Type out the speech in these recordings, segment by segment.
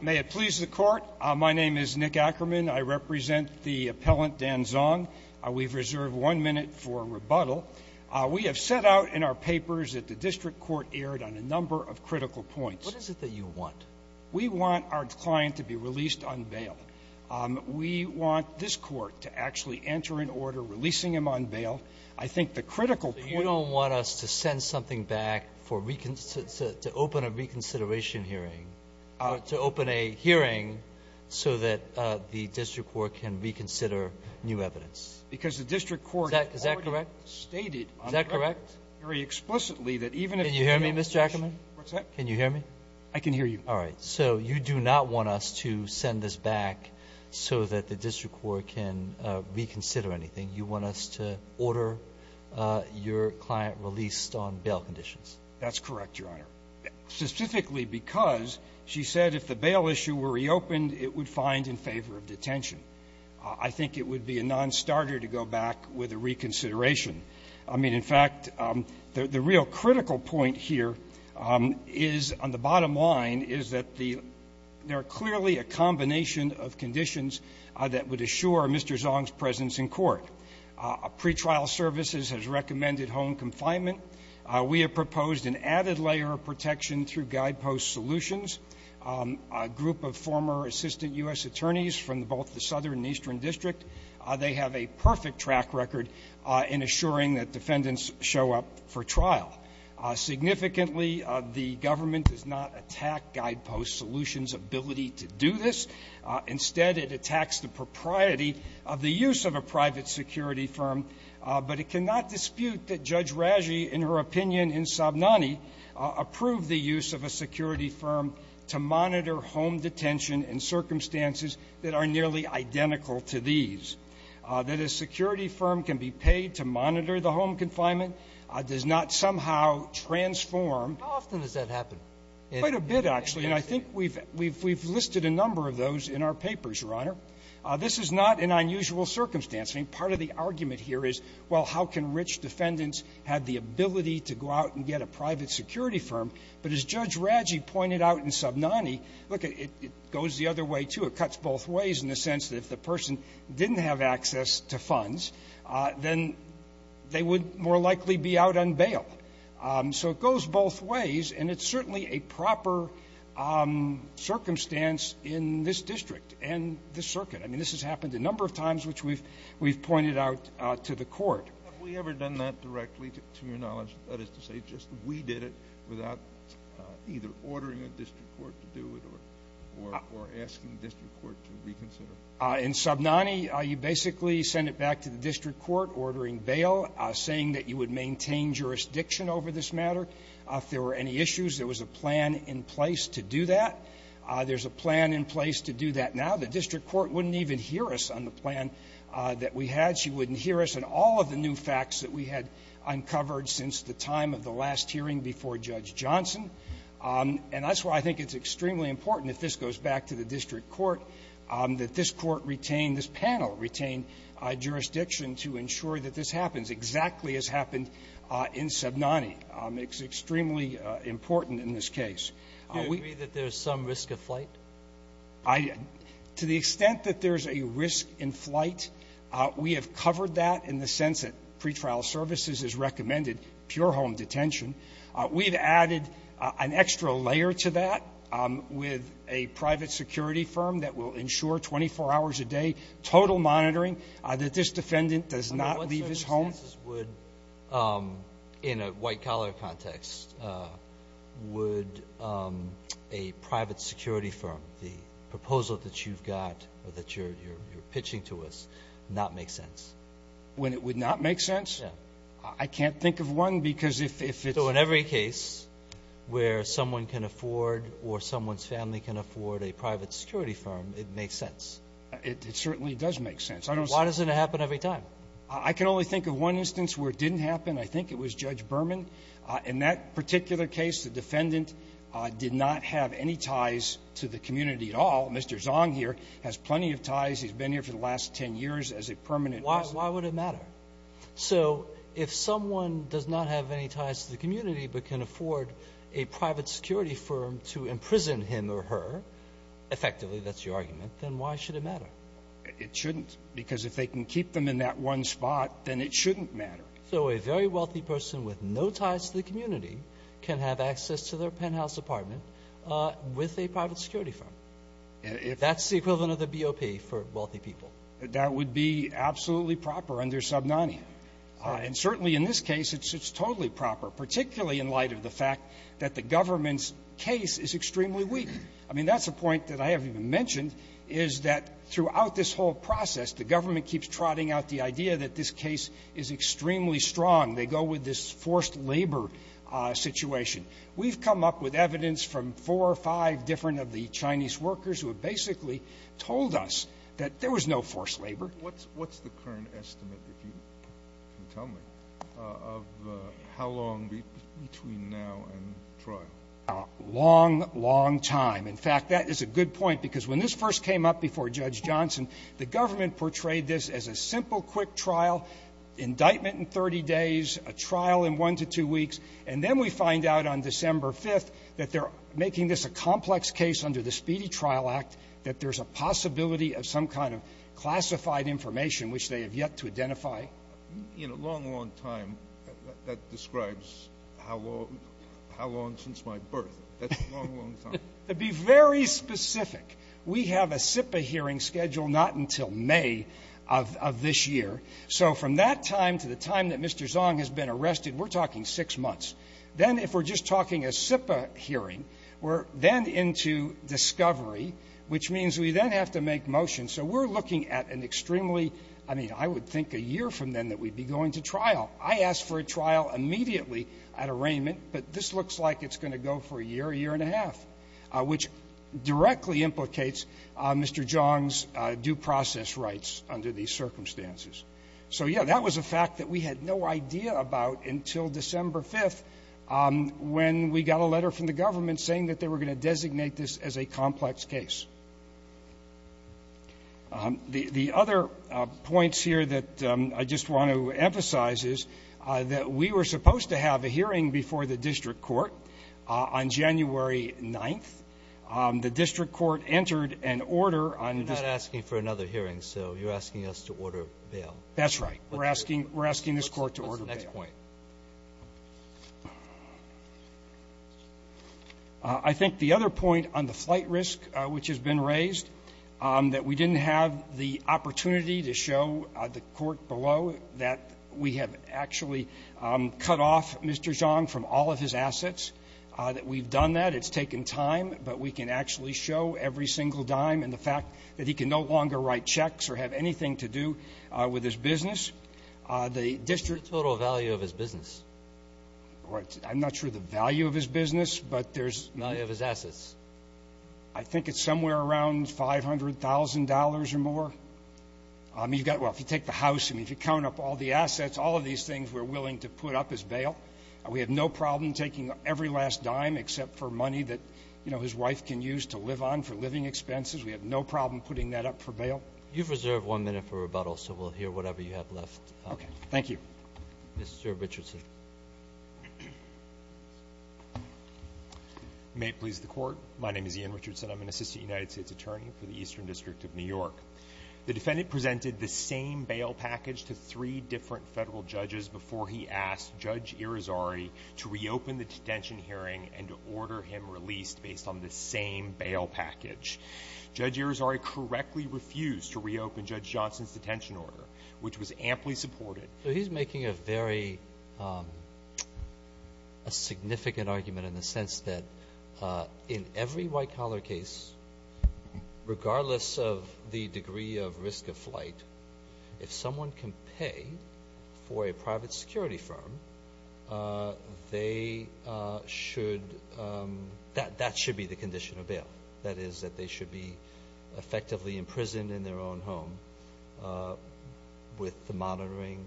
May it please the court. My name is Nick Ackerman. I represent the appellant Dan Zong. We've reserved one minute for rebuttal. We have set out in our papers that the district court erred on a number of critical points. What is it that you want? We want our client to be released on bail. We want this court to actually enter an order releasing him on bail. I think the critical point is that the district court erred on a number of critical points. So you don't want us to send something back for reconsideration, to open a reconsideration hearing, to open a hearing so that the district court can reconsider new evidence? Because the district court has already stated on the record very explicitly that even if you don't have a question. Can you hear me, Mr. Ackerman? What's that? Can you hear me? I can hear you. All right. So you do not want us to send this back so that the district court can reconsider anything. You want us to order your client released on bail conditions? That's correct, Your Honor, specifically because she said if the bail issue were reopened, it would find in favor of detention. I think it would be a nonstarter to go back with a reconsideration. I mean, in fact, the real critical point here is on the bottom line is that there are clearly a combination of conditions that would assure Mr. Zong's presence in court. Pretrial services has recommended home confinement. We have proposed an added layer of protection through guidepost solutions. A group of former assistant U.S. attorneys from both the southern and eastern district, they have a perfect track record in assuring that defendants show up for trial. Significantly, the government does not attack guidepost solutions' ability to do this. Instead, it attacks the propriety of the use of a private security firm. But it cannot dispute that Judge Raggi, in her opinion, in Sobnani, approved the use of a security firm to monitor home detention in circumstances that are nearly identical to these. That a security firm can be paid to monitor the home confinement does not somehow transform. How often does that happen? Quite a bit, actually. And I think we've listed a number of those in our papers, Your Honor. This is not an unusual circumstance. I mean, part of the argument here is, well, how can rich defendants have the ability to go out and get a private security firm? But as Judge Raggi pointed out in Sobnani, look, it goes the other way, too. It cuts both ways in the sense that if the person didn't have access to funds, then they would more likely be out on bail. So it goes both ways. And it's certainly a proper circumstance in this district and this circuit. I mean, this has happened a number of times, which we've pointed out to the Court. Have we ever done that directly, to your knowledge? That is to say, just we did it without either ordering a district court to do it or asking the district court to reconsider? In Sobnani, you basically send it back to the district court ordering bail, saying that you would maintain jurisdiction over this matter. If there were any issues, there was a plan in place to do that. There's a plan in place to do that now. The district court wouldn't even hear us on the plan that we had. She wouldn't hear us on all of the new facts that we had uncovered since the time of the last hearing before Judge Johnson. And that's why I think it's extremely important, if this goes back to the district court, that this court retain this panel, retain jurisdiction to ensure that this happens, exactly as happened in Sobnani. It's extremely important in this case. Do you agree that there's some risk of flight? To the extent that there's a risk in flight, we have covered that in the sense that pretrial services has recommended pure home detention. We've added an extra layer to that with a private security firm that will ensure 24 hours a day total monitoring that this defendant does not leave his home. Under what circumstances would, in a white collar context, would a private security firm, the proposal that you've got or that you're pitching to us, not make sense? When it would not make sense? Yeah. I can't think of one, because if it's – So in every case where someone can afford or someone's family can afford a private security firm, it makes sense? It certainly does make sense. I don't – Why doesn't it happen every time? I can only think of one instance where it didn't happen. I think it was Judge Berman. In that particular case, the defendant did not have any ties to the community at all. Mr. Zong here has plenty of ties. He's been here for the last 10 years as a permanent resident. Why would it matter? So if someone does not have any ties to the community but can afford a private security firm to imprison him or her – effectively, that's your argument – then why should it matter? It shouldn't, because if they can keep them in that one spot, then it shouldn't matter. So a very wealthy person with no ties to the community can have access to their penthouse apartment with a private security firm. That's the equivalent of the BOP for wealthy people. That would be absolutely proper under Sub 90. And certainly in this case, it's totally proper, particularly in light of the fact that the government's case is extremely weak. I mean, that's a point that I haven't even mentioned, is that throughout this whole process, the government keeps trotting out the idea that this case is extremely strong. They go with this forced labor situation. We've come up with evidence from four or five different of the Chinese workers who have basically told us that there was no forced labor. What's the current estimate, if you can tell me, of how long between now and trial? A long, long time. In fact, that is a good point, because when this first came up before Judge Johnson, the government portrayed this as a simple, quick trial – indictment in 30 days, a trial in one to two weeks – and then we find out on making this a complex case under the Speedy Trial Act that there's a possibility of some kind of classified information which they have yet to identify. In a long, long time, that describes how long – how long since my birth. That's a long, long time. To be very specific, we have a SIPA hearing scheduled not until May of this year. So from that time to the time that Mr. Zong has been arrested, we're talking six months. Then if we're just talking a SIPA hearing, we're then into discovery, which means we then have to make motion. So we're looking at an extremely – I mean, I would think a year from then that we'd be going to trial. I asked for a trial immediately at arraignment, but this looks like it's going to go for a year, a year and a half, which directly implicates Mr. Zong's due process rights under these circumstances. So, yeah, that was a fact that we had no idea about until December 5th when we got a letter from the government saying that they were going to designate this as a complex case. The other points here that I just want to emphasize is that we were supposed to have a hearing before the district court on January 9th. The district court entered an order on this – So you're asking us to order bail. That's right. We're asking – we're asking this Court to order bail. What's the next point? I think the other point on the flight risk which has been raised, that we didn't have the opportunity to show the court below that we have actually cut off Mr. Zong from all of his assets, that we've done that. It's taken time, but we can actually show every single dime and the fact that he can no longer write checks or have anything to do with his business. The district – What's the total value of his business? I'm not sure the value of his business, but there's – The value of his assets. I think it's somewhere around $500,000 or more. I mean, you've got – well, if you take the house, I mean, if you count up all the assets, all of these things we're willing to put up as bail. We have no problem taking every last dime except for money that, you know, his wife can use to live on for living expenses. We have no problem putting that up for bail. You've reserved one minute for rebuttal, so we'll hear whatever you have left. Okay. Thank you. Mr. Richardson. May it please the Court. My name is Ian Richardson. I'm an assistant United States attorney for the Eastern District of New York. The defendant presented the same bail package to three different federal judges before he asked Judge Irizarry to reopen the detention hearing and to order him released based on the same bail package. Judge Irizarry correctly refused to reopen Judge Johnson's detention order, which was amply supported. So he's making a very – a significant argument in the sense that in every white-collar case, regardless of the degree of risk of flight, if someone can pay for a private security firm, they should – that should be the condition of bail. That is, that they should be effectively imprisoned in their own home with the monitoring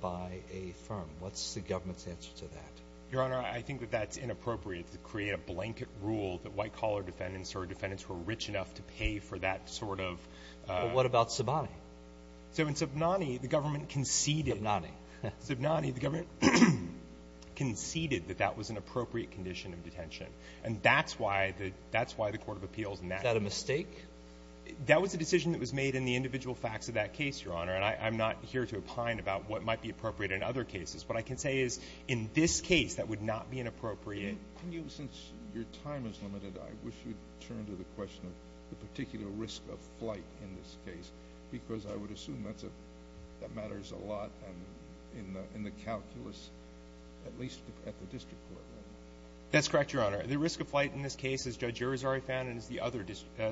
by a firm. What's the government's answer to that? Your Honor, I think that that's inappropriate to create a blanket rule that white-collar defendants or defendants who are rich enough to pay for that sort of – Well, what about Subnani? So in Subnani, the government conceded – Subnani. Subnani, the government conceded that that was an appropriate condition of detention. And that's why the – that's why the court of appeals – Is that a mistake? That was a decision that was made in the individual facts of that case, Your Honor. And I'm not here to opine about what might be appropriate in other cases. What I can say is in this case, that would not be inappropriate. Since your time is limited, I wish you'd turn to the question of the particular risk of flight in this case because I would assume that matters a lot in the calculus, at least at the district court level. That's correct, Your Honor. The risk of flight in this case, as Judge Irizarry found and as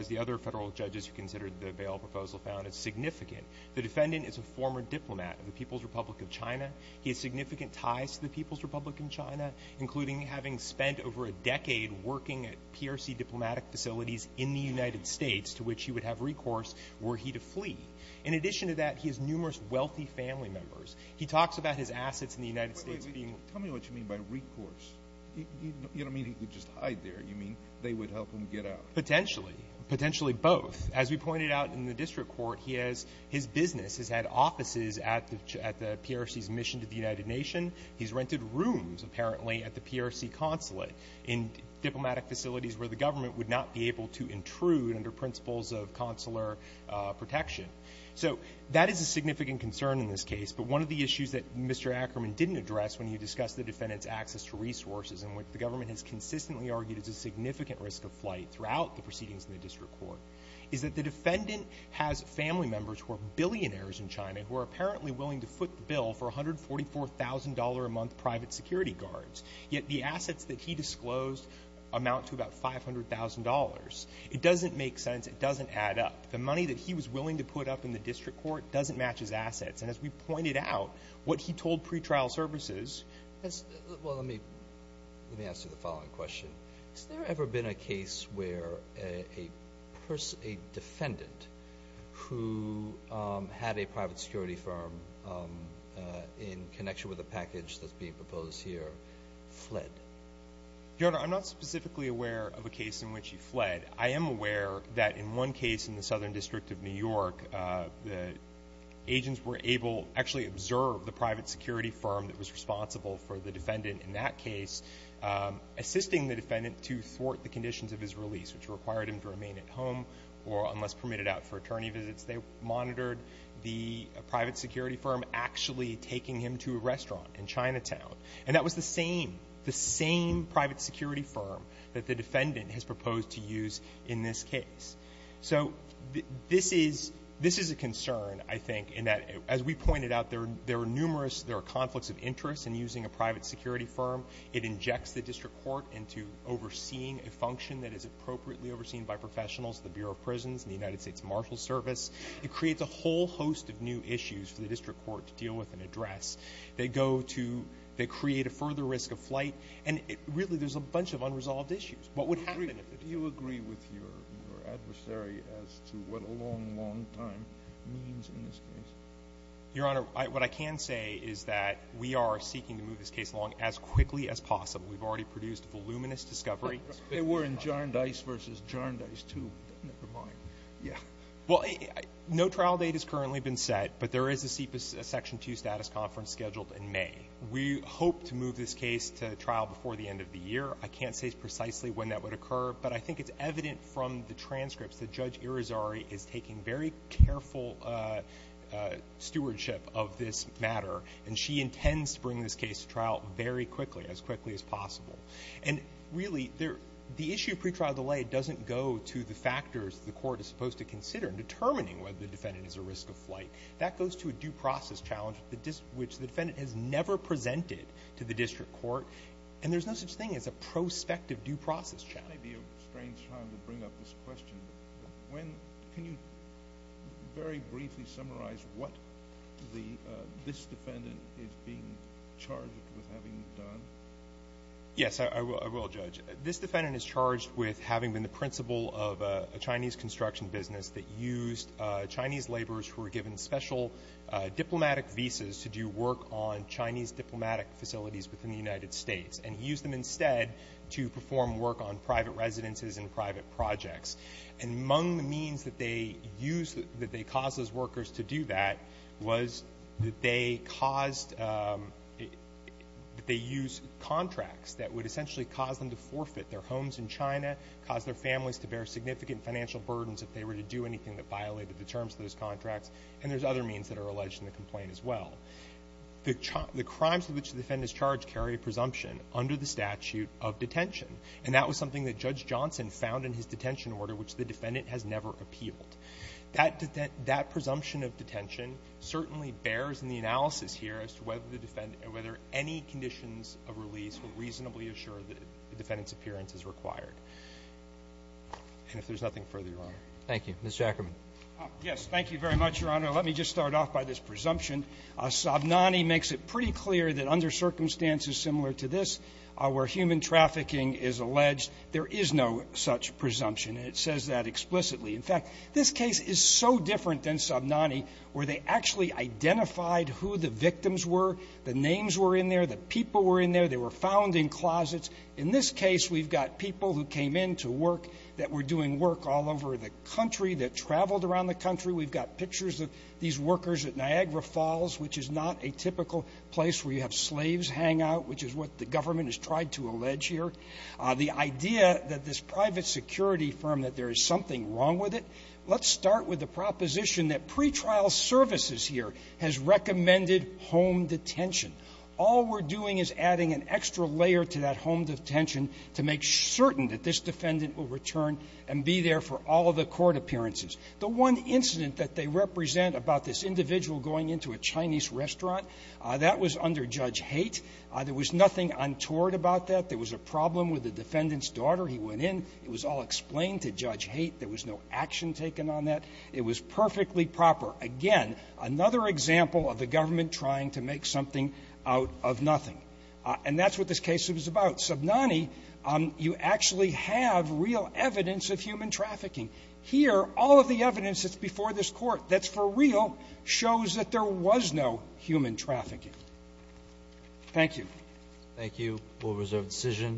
the other federal judges who considered the bail proposal found, is significant. The defendant is a former diplomat of the People's Republic of China. He has significant ties to the People's Republic of China, including having spent over a decade working at PRC diplomatic facilities in the United States to which he would have recourse were he to flee. In addition to that, he has numerous wealthy family members. He talks about his assets in the United States being – Tell me what you mean by recourse. You don't mean he could just hide there. You mean they would help him get out. Potentially. Potentially both. As we pointed out in the district court, he has – his business has had offices at the PRC's mission to the United Nations. He's rented rooms, apparently, at the PRC consulate in diplomatic facilities where the government would not be able to intrude under principles of consular protection. So that is a significant concern in this case. But one of the issues that Mr. Ackerman didn't address when he discussed the defendant's access to resources and which the government has consistently argued is a significant risk of flight throughout the proceedings in the district court is that the defendant has family members who are billionaires in China who are apparently willing to foot the bill for $144,000 a month private security guards. Yet the assets that he disclosed amount to about $500,000. It doesn't make sense. It doesn't add up. The money that he was willing to put up in the district court doesn't match his assets. And as we pointed out, what he told pretrial services – Well, let me answer the following question. Has there ever been a case where a defendant who had a private security firm in connection with a package that's being proposed here fled? Your Honor, I'm not specifically aware of a case in which he fled. I am aware that in one case in the Southern District of New York, the agents were able to actually observe the private security firm that was responsible for the defendant in that case, assisting the defendant to thwart the conditions of his release, which required him to remain at home or, unless permitted out for attorney visits, they monitored the private security firm actually taking him to a restaurant in Chinatown. And that was the same, the same private security firm that the defendant has proposed to use in this case. So this is a concern, I think, in that, as we pointed out, there are numerous conflicts of interest in using a private security firm. It injects the district court into overseeing a function that is appropriately overseen by professionals at the Bureau of Prisons and the United States Marshals Service. It creates a whole host of new issues for the district court to deal with and address. They go to – they create a further risk of flight, and really there's a bunch of unresolved issues. What would happen if it did? Do you agree with your adversary as to what a long, long time means in this case? Your Honor, what I can say is that we are seeking to move this case along as quickly as possible. We've already produced voluminous discovery. We're in jar and dice versus jar and dice, too. Never mind. Yeah. Well, no trial date has currently been set, but there is a Section 2 status conference scheduled in May. We hope to move this case to trial before the end of the year. I can't say precisely when that would occur, but I think it's evident from the transcripts that Judge Irizarry is taking very careful stewardship of this matter, and she intends to bring this case to trial very quickly, as quickly as possible. And really, the issue of pretrial delay doesn't go to the factors the court is supposed to consider in determining whether the defendant is at risk of flight. That goes to a due process challenge, which the defendant has never presented to the district court, and there's no such thing as a prospective due process challenge. It may be a strange time to bring up this question, but can you very briefly summarize what this defendant is being charged with having done? Yes, I will, Judge. This defendant is charged with having been the principal of a Chinese construction business that used Chinese laborers who were given special diplomatic visas to do work on Chinese diplomatic facilities within the United States, and used them instead to perform work on private residences and private projects. And among the means that they used, that they caused those workers to do that, was that they used contracts that would essentially cause them to forfeit their homes in China, cause their families to bear significant financial burdens if they were to do anything that violated the terms of those contracts, and there's other means that are alleged in the complaint as well. The crimes in which the defendant is charged carry a presumption under the statute of detention, and that was something that Judge Johnson found in his detention order, which the defendant has never appealed. That presumption of detention certainly bears in the analysis here as to whether the defendant or whether any conditions of release will reasonably assure that the defendant's appearance is required. And if there's nothing further, Your Honor. Thank you. Mr. Ackerman. Yes. Thank you very much, Your Honor. Let me just start off by this presumption. Sobnani makes it pretty clear that under circumstances similar to this where human trafficking is alleged, there is no such presumption, and it says that explicitly. In fact, this case is so different than Sobnani where they actually identified who the victims were, the names were in there, the people were in there, they were found in closets. In this case, we've got people who came in to work that were doing work all over the country, that traveled around the country. We've got pictures of these workers at Niagara Falls, which is not a typical place where you have slaves hang out, which is what the government has tried to allege here. The idea that this private security firm that there is something wrong with it, let's start with the proposition that pretrial services here has recommended home detention. All we're doing is adding an extra layer to that home detention to make certain that this defendant will return and be there for all of the court appearances. The one incident that they represent about this individual going into a Chinese restaurant, that was under Judge Haight. There was nothing untoward about that. There was a problem with the defendant's daughter. He went in. It was all explained to Judge Haight. There was no action taken on that. It was perfectly proper. Again, another example of the government trying to make something out of nothing. And that's what this case was about. Sobnani, you actually have real evidence of human trafficking. Here, all of the evidence that's before this Court that's for real shows that there was no human trafficking. Thank you. Thank you. We'll reserve the decision.